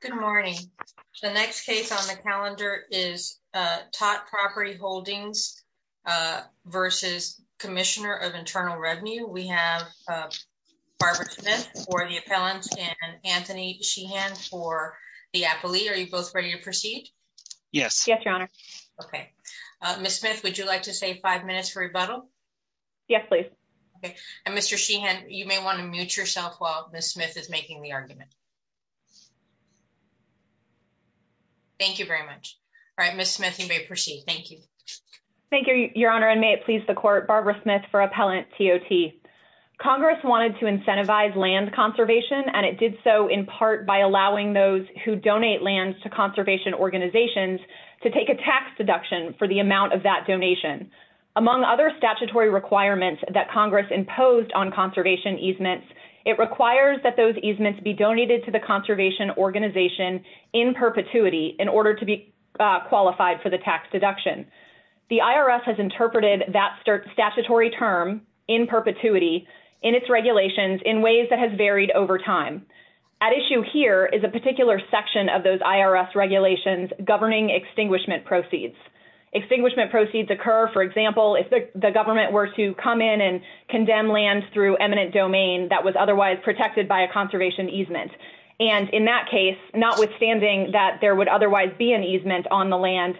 Good morning. The next case on the calendar is TOT Property Holdings v. Commissioner of Internal Revenue. We have Barbara Smith for the appellant and Anthony Sheehan for the appellee. Are you both ready to proceed? Yes. Yes, Your Honor. Okay. Ms. Smith, would you like to save five minutes for rebuttal? Yes, please. Okay. And Mr. Sheehan, you may want to mute yourself while Ms. Smith is making the argument. Thank you very much. All right, Ms. Smith, you may proceed. Thank you. Thank you, Your Honor. And may it please the Court, Barbara Smith for appellant TOT. Congress wanted to incentivize land conservation, and it did so in part by allowing those who donate lands to conservation organizations to take a tax deduction for the amount of that donation. Among other statutory requirements that Congress imposed on conservation easements, it requires that those easements be donated to the conservation organization in perpetuity in order to be qualified for the tax deduction. The IRS has interpreted that statutory term, in perpetuity, in its regulations in ways that has varied over time. At issue here is a particular section of those IRS regulations governing extinguishment proceeds. Extinguishment proceeds occur, for example, if the government were to come in and condemn land through eminent domain that was otherwise protected by a conservation easement. And in that case, notwithstanding that there would otherwise be an easement on the land,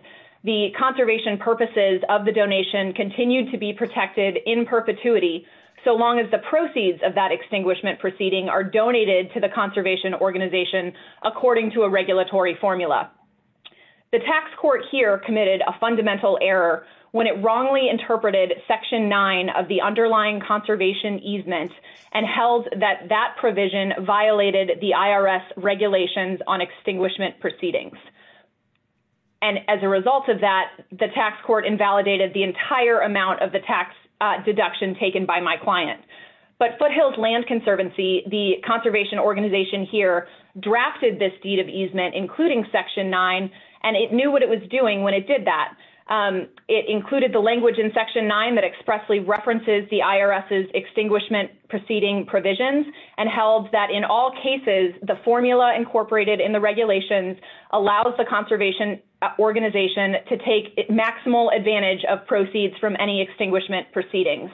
the conservation purposes of the donation continue to be protected in perpetuity, so long as the proceeds of that extinguishment proceeding are donated to the conservation organization according to a regulatory formula. The tax court here committed a fundamental error when it wrongly interpreted Section 9 of the underlying conservation easement and held that that provision violated the IRS regulations on extinguishment proceedings. And as a result of that, the tax court invalidated the entire amount of the tax deduction taken by my client. But Foothills Land Conservancy, the conservation organization here, drafted this deed of easement, including Section 9, and it knew what it was doing when it did that. It included the language in Section 9 that expressly references the IRS's extinguishment proceeding provisions and held that in all cases, the formula incorporated in the regulations allows the conservation organization to take maximal advantage of proceeds from any extinguishment proceedings.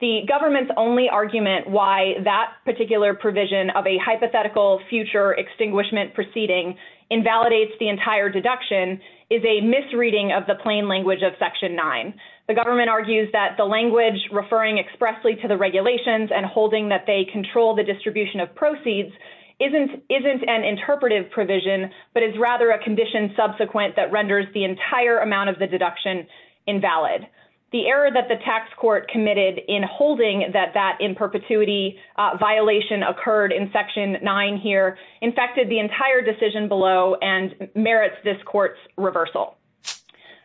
The government's only argument why that particular provision of a hypothetical future extinguishment proceeding invalidates the entire deduction is a misreading of the plain language of Section 9. The government argues that the language referring expressly to the regulations and holding that they control the distribution of proceeds isn't an interpretive provision, but is rather a condition subsequent that renders the entire amount of the deduction invalid. The error that the tax court committed in holding that that in perpetuity violation occurred in Section 9 here infected the entire decision below and merits this court's reversal.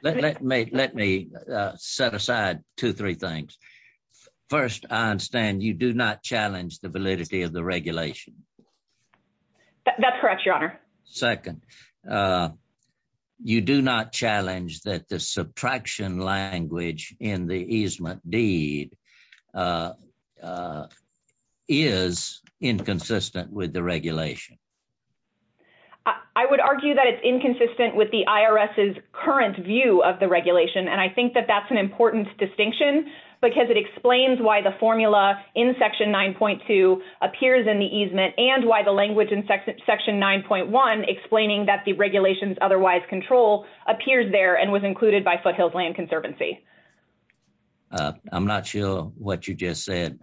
Let me set aside two, three things. First, I understand you do not challenge the validity of the regulation. That's correct, Your Honor. Second, you do not challenge that the subtraction language in the easement deed is inconsistent with the regulation. I would argue that it's inconsistent with the IRS's current view of the regulation. And I think that that's an important distinction because it explains why the formula in Section 9.2 appears in the easement and why the language in Section 9.1 explaining that the regulations otherwise control appears there and was included by Foothills Land Conservancy. I'm not sure what you just said.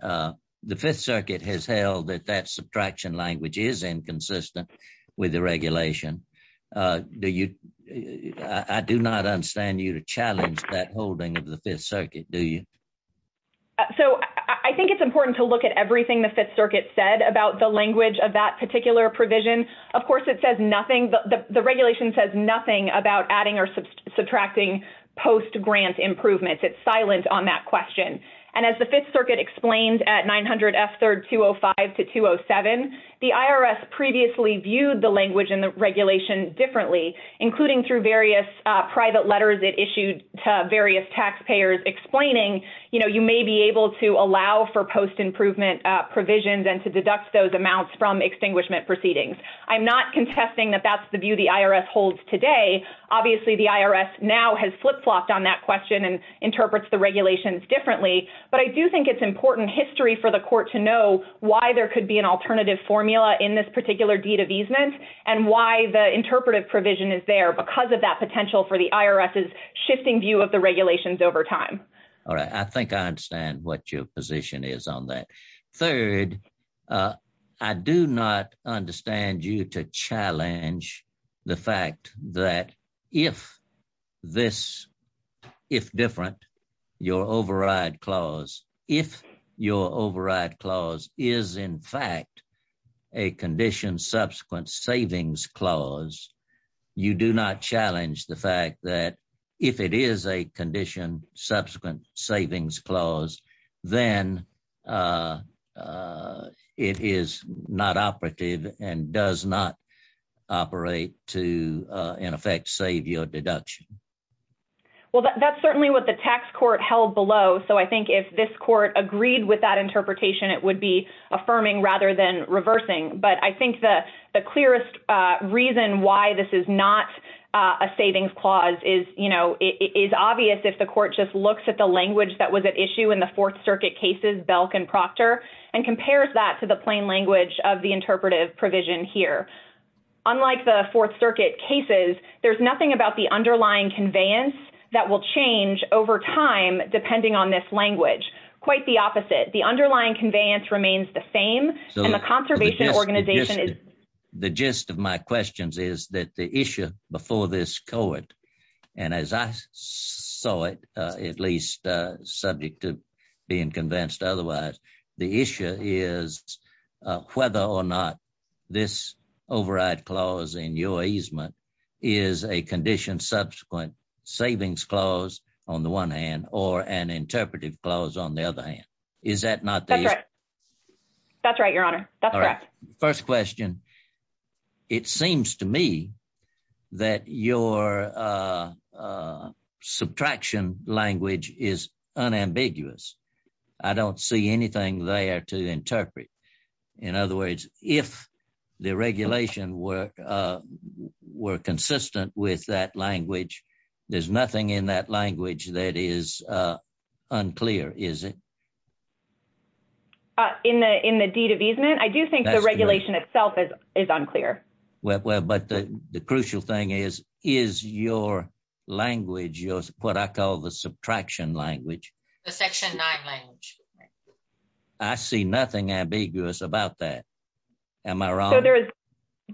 The Fifth Circuit has held that that subtraction language is inconsistent with the regulation. Do you? I do not understand you to challenge that holding of the Fifth Circuit, do you? So I think it's important to look at everything the Fifth Circuit said about the language of that particular provision. Of course, it says nothing. The regulation says nothing about adding or subtracting post-grant improvements. It's silent on that question. And as the Fifth Circuit explained at 900 F3rd 205 to 207, the IRS previously viewed the language in the regulation differently, including through various private letters it issued to various taxpayers explaining, you know, you may be able to allow for post-improvement provisions and to deduct those amounts from extinguishment proceedings. I'm not contesting that that's the view the IRS holds today. Obviously, the IRS now has flip-flopped on that question and interprets the regulations differently. But I do think it's important history for the court to know why there could be an alternative formula in this particular deed of easement and why the interpretive provision is there because of that potential for the IRS's shifting view of the regulations over time. All right. I think I understand what your position is on that. Third, I do not understand you to challenge the fact that if this, if different, your override clause, if your override clause is in fact a condition subsequent savings clause, you do not challenge the fact that if it is a condition subsequent savings clause, then it is not operative and does not operate to, in effect, save your deduction. Well, that's certainly what the tax court held below. So I think if this court agreed with that interpretation, it would be affirming rather than reversing. But I think the clearest reason why this is not a savings clause is obvious if the court just looks at the language that was at issue in the Fourth Circuit cases, Belk and Proctor, and compares that to the plain language of the interpretive provision here. Unlike the Fourth Circuit cases, there's nothing about the underlying conveyance that will change over time, depending on this language. Quite the opposite. The underlying conveyance remains the same, and the conservation organization is... in your easement is a condition subsequent savings clause on the one hand or an interpretive clause on the other hand. Is that not the... That's right. That's right, Your Honor. That's correct. First question, it seems to me that your subtraction language is unambiguous. I don't see anything there to interpret. In other words, if the regulation were consistent with that language, there's nothing in that language that is unclear, is it? In the deed of easement, I do think the regulation itself is unclear. Well, but the crucial thing is, is your language, what I call the subtraction language... The Section 9 language. I see nothing ambiguous about that. Am I wrong?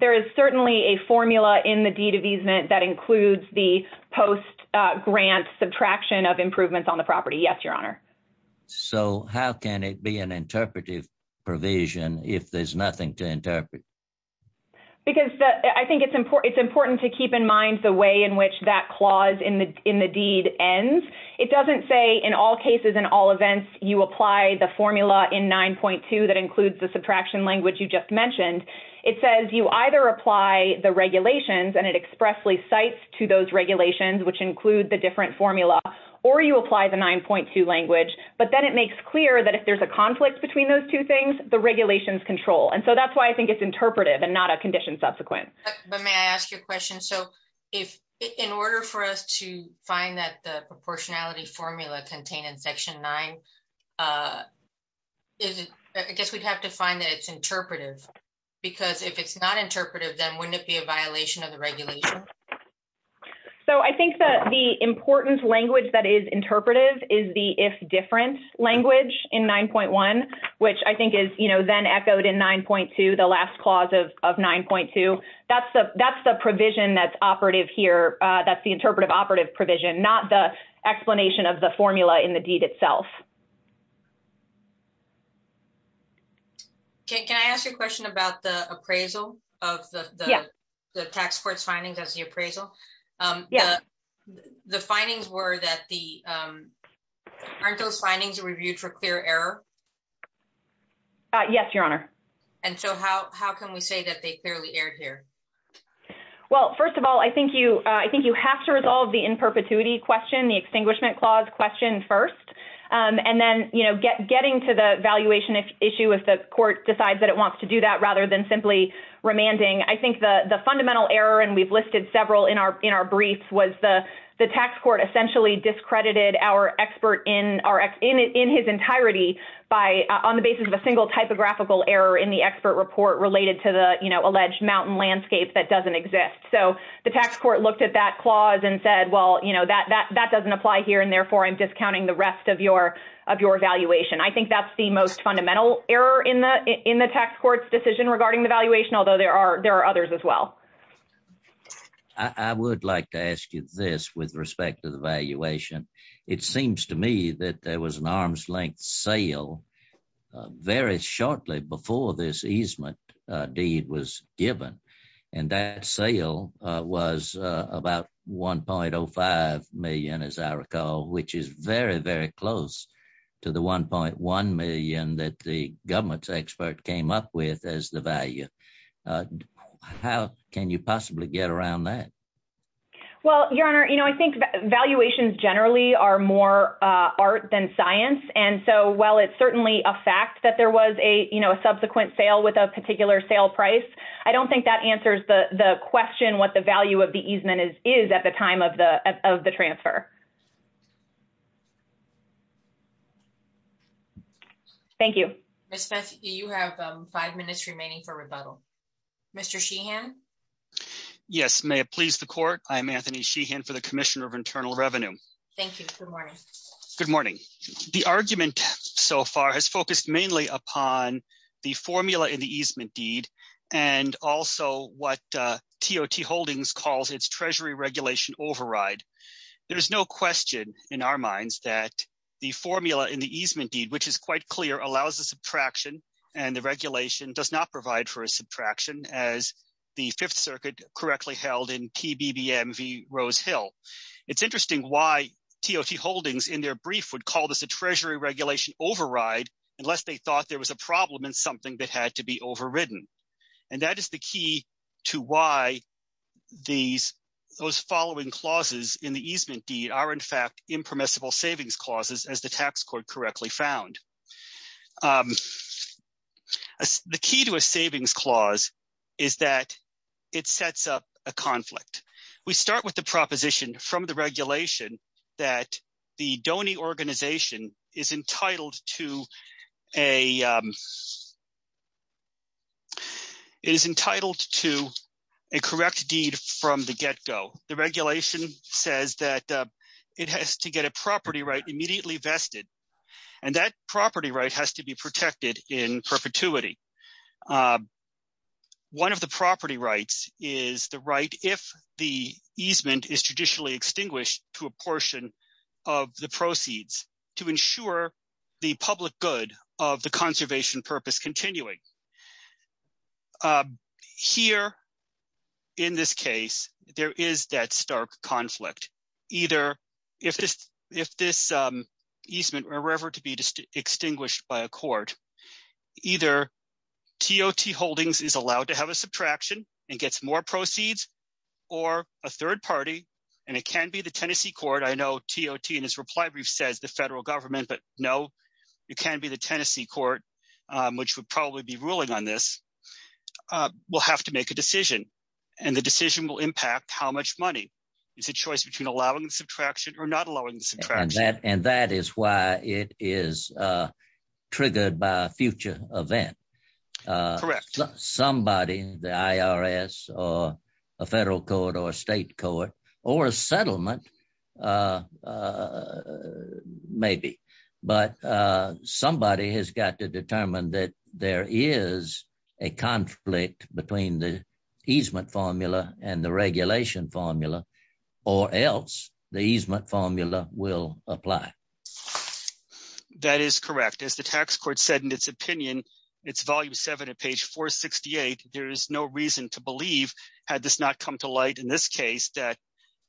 There is certainly a formula in the deed of easement that includes the post-grant subtraction of improvements on the property. Yes, Your Honor. So how can it be an interpretive provision if there's nothing to interpret? Because I think it's important to keep in mind the way in which that clause in the deed ends. It doesn't say in all cases, in all events, you apply the formula in 9.2 that includes the subtraction language you just mentioned. It says you either apply the regulations, and it expressly cites to those regulations, which include the different formula, or you apply the 9.2 language. But then it makes clear that if there's a conflict between those two things, the regulations control. And so that's why I think it's interpretive and not a condition subsequent. But may I ask you a question? In order for us to find that the proportionality formula contained in Section 9, I guess we'd have to find that it's interpretive. Because if it's not interpretive, then wouldn't it be a violation of the regulation? So I think that the important language that is interpretive is the if different language in 9.1, which I think is then echoed in 9.2, the last clause of 9.2. That's the provision that's operative here. That's the interpretive operative provision, not the explanation of the formula in the deed itself. Can I ask you a question about the appraisal of the tax court's findings as the appraisal? Yeah. The findings were that the aren't those findings reviewed for clear error? Yes, Your Honor. And so how can we say that they clearly erred here? Well, first of all, I think you have to resolve the in perpetuity question, the extinguishment clause question first. And then, you know, getting to the valuation issue if the court decides that it wants to do that rather than simply remanding. I think the fundamental error, and we've listed several in our briefs, was the tax court essentially discredited our expert in his entirety on the basis of a single typographical error in the expert report related to the, you know, alleged mountain landscape that doesn't exist. So the tax court looked at that clause and said, well, you know, that doesn't apply here, and therefore I'm discounting the rest of your valuation. I think that's the most fundamental error in the tax court's decision regarding the valuation, although there are there are others as well. I would like to ask you this with respect to the valuation. It seems to me that there was an arm's length sale very shortly before this easement deed was given, and that sale was about $1.05 million, as I recall, which is very, very close to the $1.1 million that the government's expert came up with as the value. How can you possibly get around that? Well, Your Honor, you know, I think valuations generally are more art than science, and so while it's certainly a fact that there was a, you know, a subsequent sale with a particular sale price, I don't think that answers the question what the value of the easement is at the time of the transfer. Thank you. Ms. Messick, you have five minutes remaining for rebuttal. Mr. Sheehan? Yes. May it please the Court. I'm Anthony Sheehan for the Commissioner of Internal Revenue. Thank you. Good morning. Good morning. The argument so far has focused mainly upon the formula in the easement deed and also what TOT Holdings calls its treasury regulation override. There is no question in our minds that the formula in the easement deed, which is quite clear, allows a subtraction, and the regulation does not provide for a subtraction as the Fifth Circuit correctly held in PBBM v. Rose Hill. It's interesting why TOT Holdings in their brief would call this a treasury regulation override unless they thought there was a problem in something that had to be overridden, and that is the key to why these – those following clauses in the easement deed are, in fact, impermissible savings clauses as the tax court correctly found. The key to a savings clause is that it sets up a conflict. We start with the proposition from the regulation that the donor organization is entitled to a – is entitled to a correct deed from the get-go. The regulation says that it has to get a property right immediately vested, and that property right has to be protected in perpetuity. One of the property rights is the right if the easement is traditionally extinguished to a portion of the proceeds to ensure the public good of the conservation purpose continuing. Here, in this case, there is that stark conflict, either if this easement were ever to be extinguished by a court, either TOT Holdings is allowed to have a subtraction and gets more proceeds or a third party, and it can be the Tennessee court. I know TOT in its reply brief says the federal government, but no, it can be the Tennessee court, which would probably be ruling on this. We'll have to make a decision, and the decision will impact how much money. It's a choice between allowing the subtraction or not allowing the subtraction. And that is why it is triggered by a future event. Correct. Somebody, the IRS or a federal court or a state court or a settlement, maybe, but somebody has got to determine that there is a conflict between the easement formula and the regulation formula, or else the easement formula will apply. That is correct. As the tax court said, in its opinion, it's Volume 7 at page 468. There is no reason to believe, had this not come to light in this case, that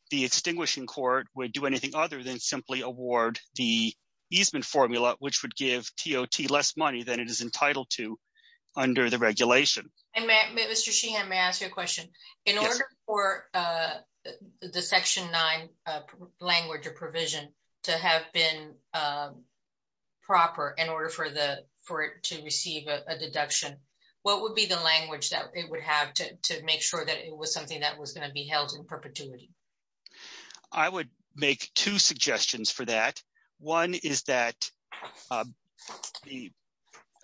the extinguishing court would do anything other than simply award the easement formula, which would give TOT less money than it is entitled to under the regulation. Mr. Sheehan, may I ask you a question? Yes. In order for the Section 9 language or provision to have been proper in order for it to receive a deduction, what would be the language that it would have to make sure that it was something that was going to be held in perpetuity? I would make two suggestions for that. One is that the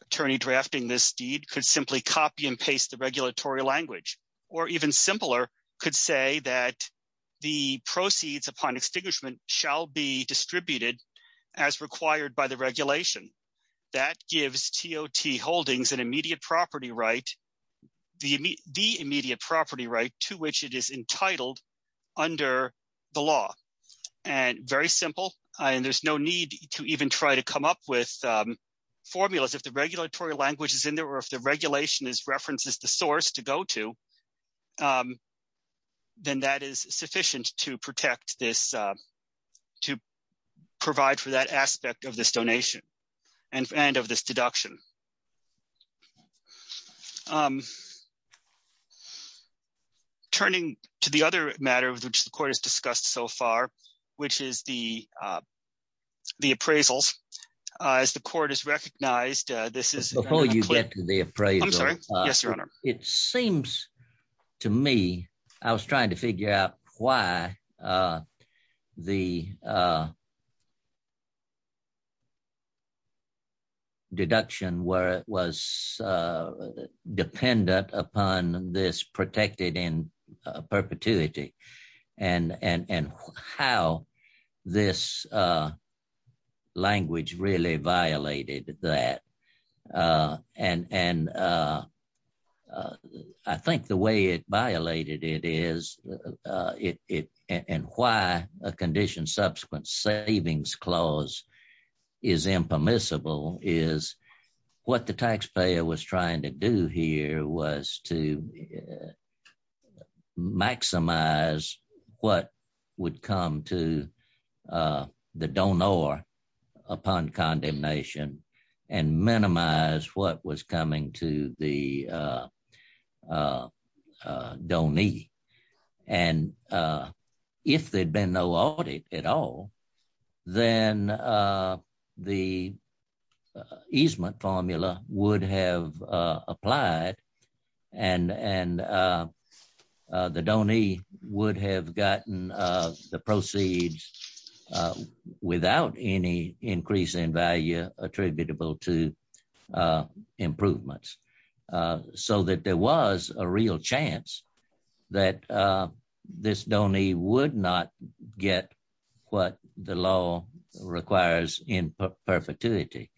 attorney drafting this deed could simply copy and paste the regulatory language, or even simpler, could say that the proceeds upon extinguishment shall be distributed as required by the regulation. That gives TOT holdings an immediate property right, the immediate property right to which it is entitled under the law. Very simple, and there's no need to even try to come up with formulas. If the regulatory language is in there, or if the regulation references the source to go to, then that is sufficient to protect this, to provide for that aspect of this donation and of this deduction. Turning to the other matter of which the Court has discussed so far, which is the appraisals, as the Court has recognized this is— Before you get to the appraisals— I'm sorry? Yes, Your Honor. It seems to me, I was trying to figure out why the deduction was dependent upon this protected in perpetuity, and how this language really violated that. I think the way it violated it is, and why a condition subsequent savings clause is impermissible, is what the taxpayer was trying to do here was to maximize what would come to the donor upon condemnation, and minimize what was coming to the donee. And if there'd been no audit at all, then the easement formula would have applied, and the donee would have gotten the proceeds without any increase in value attributable to improvements. So that there was a real chance that this donee would not get what the law requires in perpetuity.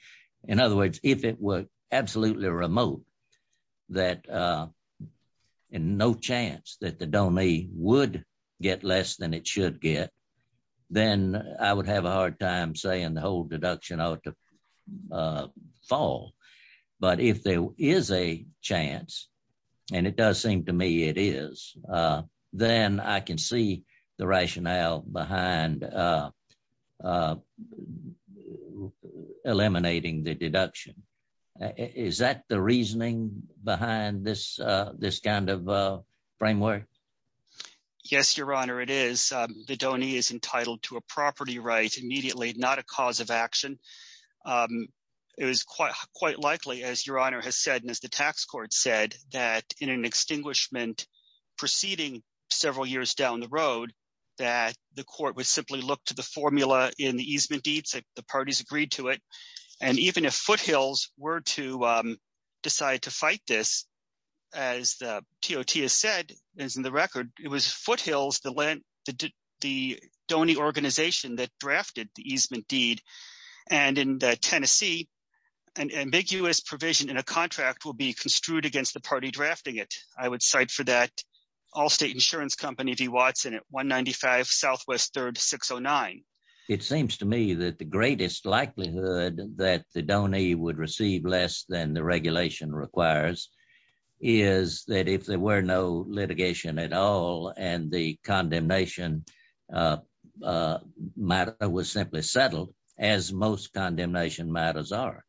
In other words, if it were absolutely remote, and no chance that the donee would get less than it should get, then I would have a hard time saying the whole deduction ought to fall. But if there is a chance, and it does seem to me it is, then I can see the rationale behind eliminating the deduction. Is that the reasoning behind this kind of framework? Yes, Your Honor, it is. The donee is entitled to a property right immediately, not a cause of action. It was quite likely, as Your Honor has said, and as the tax court said, that in an extinguishment proceeding several years down the road, that the court would simply look to the formula in the easement deeds if the parties agreed to it. And even if Foothills were to decide to fight this, as the TOT has said, as in the record, it was Foothills, the donee organization that drafted the easement deed. And in Tennessee, an ambiguous provision in a contract will be construed against the party drafting it. I would cite for that Allstate Insurance Company v. Watson at 195 Southwest 3rd 609. It seems to me that the greatest likelihood that the donee would receive less than the regulation requires is that if there were no litigation at all and the condemnation matter was simply settled, as most condemnation matters are.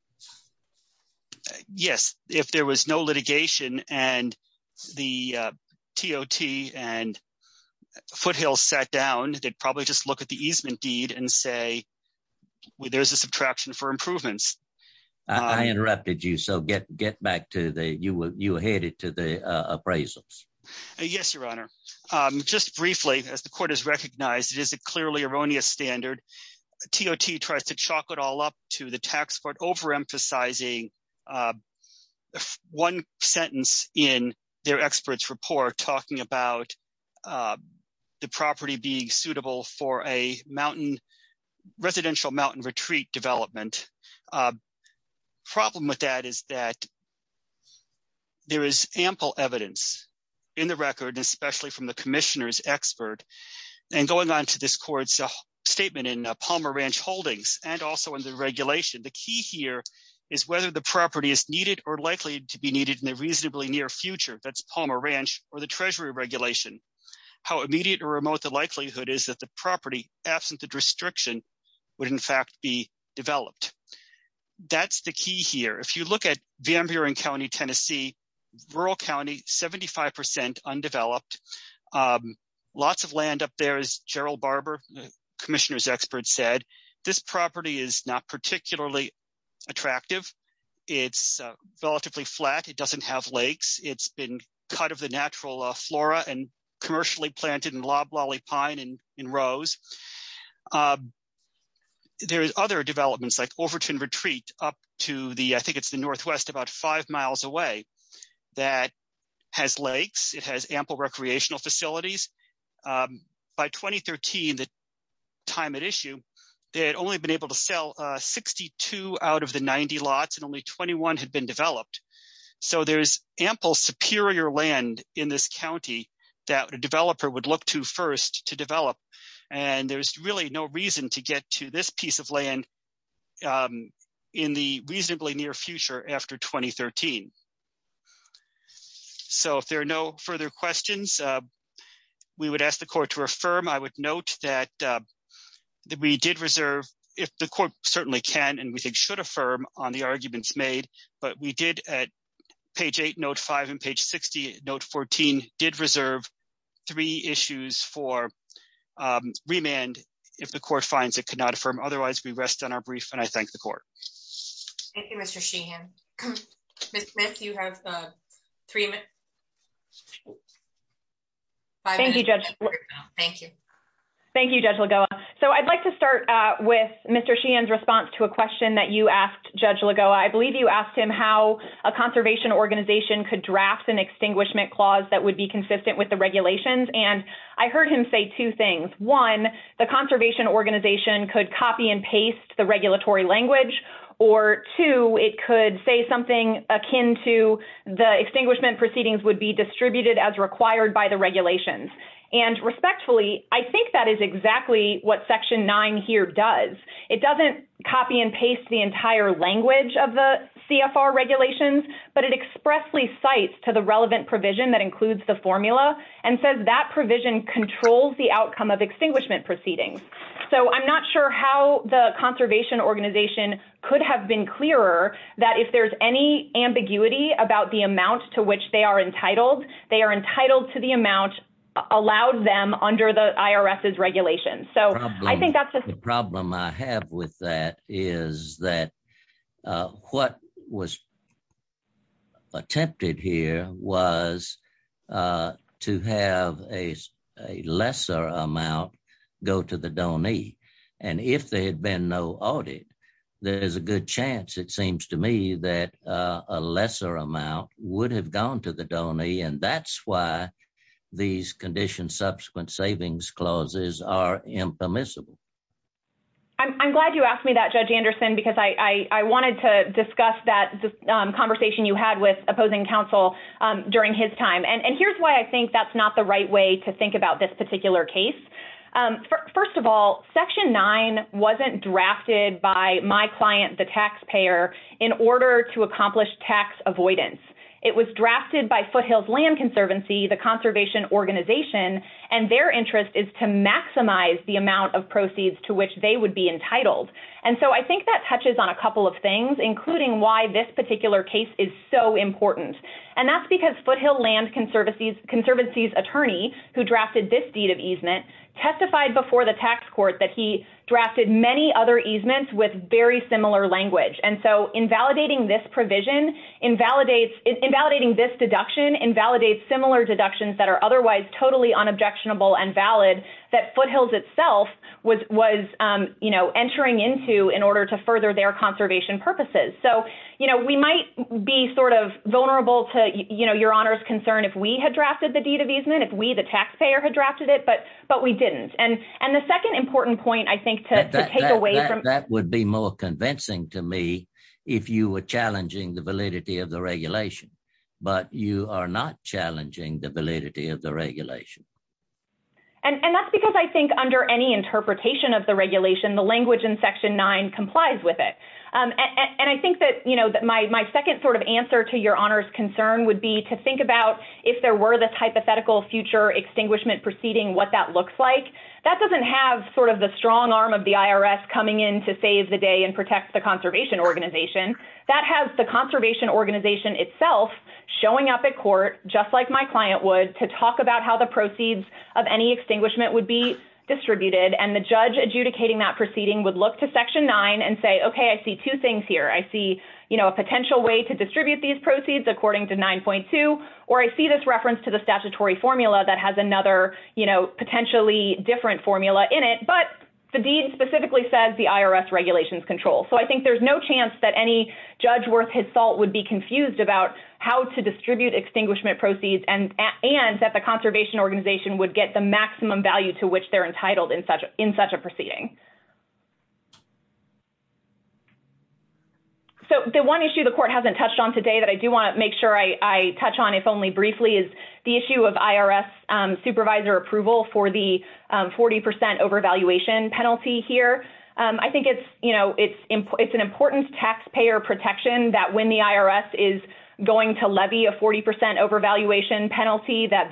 Yes, if there was no litigation and the TOT and Foothills sat down, they'd probably just look at the easement deed and say, well, there's a subtraction for improvements. I interrupted you, so get back to the, you were headed to the appraisals. Yes, Your Honor. Just briefly, as the court has recognized, it is a clearly erroneous standard. TOT tries to chalk it all up to the tax court overemphasizing one sentence in their experts report talking about the property being suitable for a residential mountain retreat development. Problem with that is that there is ample evidence in the record, especially from the commissioner's expert. And going on to this court's statement in Palmer Ranch Holdings and also in the regulation, the key here is whether the property is needed or likely to be needed in the reasonably near future. That's Palmer Ranch or the Treasury regulation. How immediate or remote the likelihood is that the property, absent the restriction, would in fact be developed. That's the key here. If you look at Van Buren County, Tennessee, rural county, 75% undeveloped. Lots of land up there, as Gerald Barber, commissioner's expert, said. This property is not particularly attractive. It's relatively flat. It doesn't have lakes. It's been cut of the natural flora and commercially planted in loblolly pine and rose. There's other developments like Overton Retreat up to the, I think it's the northwest, about five miles away, that has lakes. It has ample recreational facilities. By 2013, the time at issue, they had only been able to sell 62 out of the 90 lots and only 21 had been developed. There's ample superior land in this county that a developer would look to first to develop. There's really no reason to get to this piece of land in the reasonably near future after 2013. If there are no further questions, we would ask the court to affirm. I would note that we did reserve, if the court certainly can and we think should affirm on the arguments made, but we did at page 8, note 5, and page 60, note 14, did reserve three issues for remand. If the court finds it could not affirm. Otherwise, we rest on our brief, and I thank the court. Thank you, Mr. Sheehan. Ms. Smith, you have five minutes. Thank you, Judge Lagoa. I'd like to start with Mr. Sheehan's response to a question that you asked Judge Lagoa. I believe you asked him how a conservation organization could draft an extinguishment clause that would be consistent with the regulations. I heard him say two things. One, the conservation organization could copy and paste the regulatory language, or two, it could say something akin to the extinguishment proceedings would be distributed as required by the regulations. Respectfully, I think that is exactly what Section 9 here does. It doesn't copy and paste the entire language of the CFR regulations, but it expressly cites to the relevant provision that includes the formula and says that provision controls the outcome of extinguishment proceedings. So I'm not sure how the conservation organization could have been clearer that if there's any ambiguity about the amount to which they are entitled, they are entitled to the amount allowed them under the IRS's regulations. The problem I have with that is that what was attempted here was to have a lesser amount go to the donee. And if there had been no audit, there is a good chance, it seems to me, that a lesser amount would have gone to the donee. And that's why these conditions subsequent savings clauses are impermissible. I'm glad you asked me that, Judge Anderson, because I wanted to discuss that conversation you had with opposing counsel during his time. And here's why I think that's not the right way to think about this particular case. First of all, Section 9 wasn't drafted by my client, the taxpayer, in order to accomplish tax avoidance. It was drafted by Foothill's Land Conservancy, the conservation organization, and their interest is to maximize the amount of proceeds to which they would be entitled. And so I think that touches on a couple of things, including why this particular case is so important. And that's because Foothill Land Conservancy's attorney, who drafted this deed of easement, testified before the tax court that he drafted many other easements with very similar language. And so invalidating this provision, invalidating this deduction, invalidates similar deductions that are otherwise totally unobjectionable and valid that Foothill's itself was entering into in order to further their conservation purposes. So, you know, we might be sort of vulnerable to, you know, Your Honor's concern if we had drafted the deed of easement, if we, the taxpayer, had drafted it, but we didn't. And the second important point I think to take away from- That would be more convincing to me if you were challenging the validity of the regulation, but you are not challenging the validity of the regulation. And that's because I think under any interpretation of the regulation, the language in Section 9 complies with it. And I think that, you know, my second sort of answer to Your Honor's concern would be to think about if there were this hypothetical future extinguishment proceeding, what that looks like. That doesn't have sort of the strong arm of the IRS coming in to save the day and protect the conservation organization. That has the conservation organization itself showing up at court, just like my client would, to talk about how the proceeds of any extinguishment would be distributed. And the judge adjudicating that proceeding would look to Section 9 and say, okay, I see two things here. I see, you know, a potential way to distribute these proceeds according to 9.2, or I see this reference to the statutory formula that has another, you know, potentially different formula in it. But the deed specifically says the IRS regulations control. So I think there's no chance that any judge worth his salt would be confused about how to distribute extinguishment proceeds and that the conservation organization would get the maximum value to which they're entitled in such a proceeding. So the one issue the court hasn't touched on today that I do want to make sure I touch on, if only briefly, is the issue of IRS supervisor approval for the 40% overvaluation penalty here. I think it's, you know, it's an important taxpayer protection that when the IRS is going to levy a 40% overvaluation penalty, that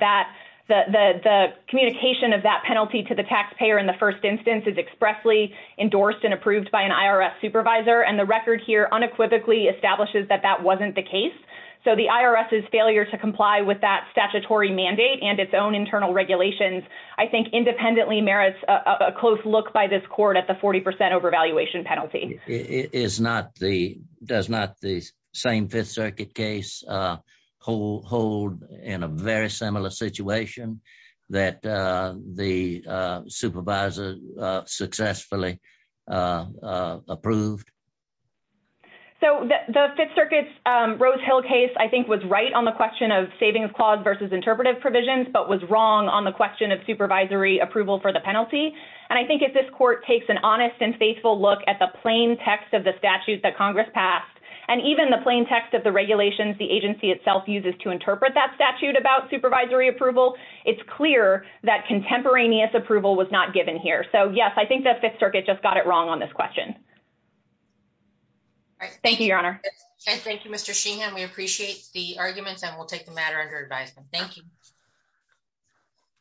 the communication of that penalty to the taxpayer in the first instance is expressly endorsed and approved by an IRS supervisor. And the record here unequivocally establishes that that wasn't the case. So the IRS's failure to comply with that statutory mandate and its own internal regulations, I think independently merits a close look by this court at the 40% overvaluation penalty. It is not the, does not the same Fifth Circuit case hold in a very similar situation that the supervisor successfully approved? So the Fifth Circuit's Rose Hill case, I think, was right on the question of savings clause versus interpretive provisions, but was wrong on the question of supervisory approval for the penalty. And I think if this court takes an honest and faithful look at the plain text of the statute that Congress passed, and even the plain text of the regulations the agency itself uses to interpret that statute about supervisory approval, it's clear that contemporaneous approval was not given here. So yes, I think the Fifth Circuit just got it wrong on this question. Thank you, Your Honor. Thank you, Mr. Sheehan. We appreciate the arguments and we'll take the matter under advisement. Thank you.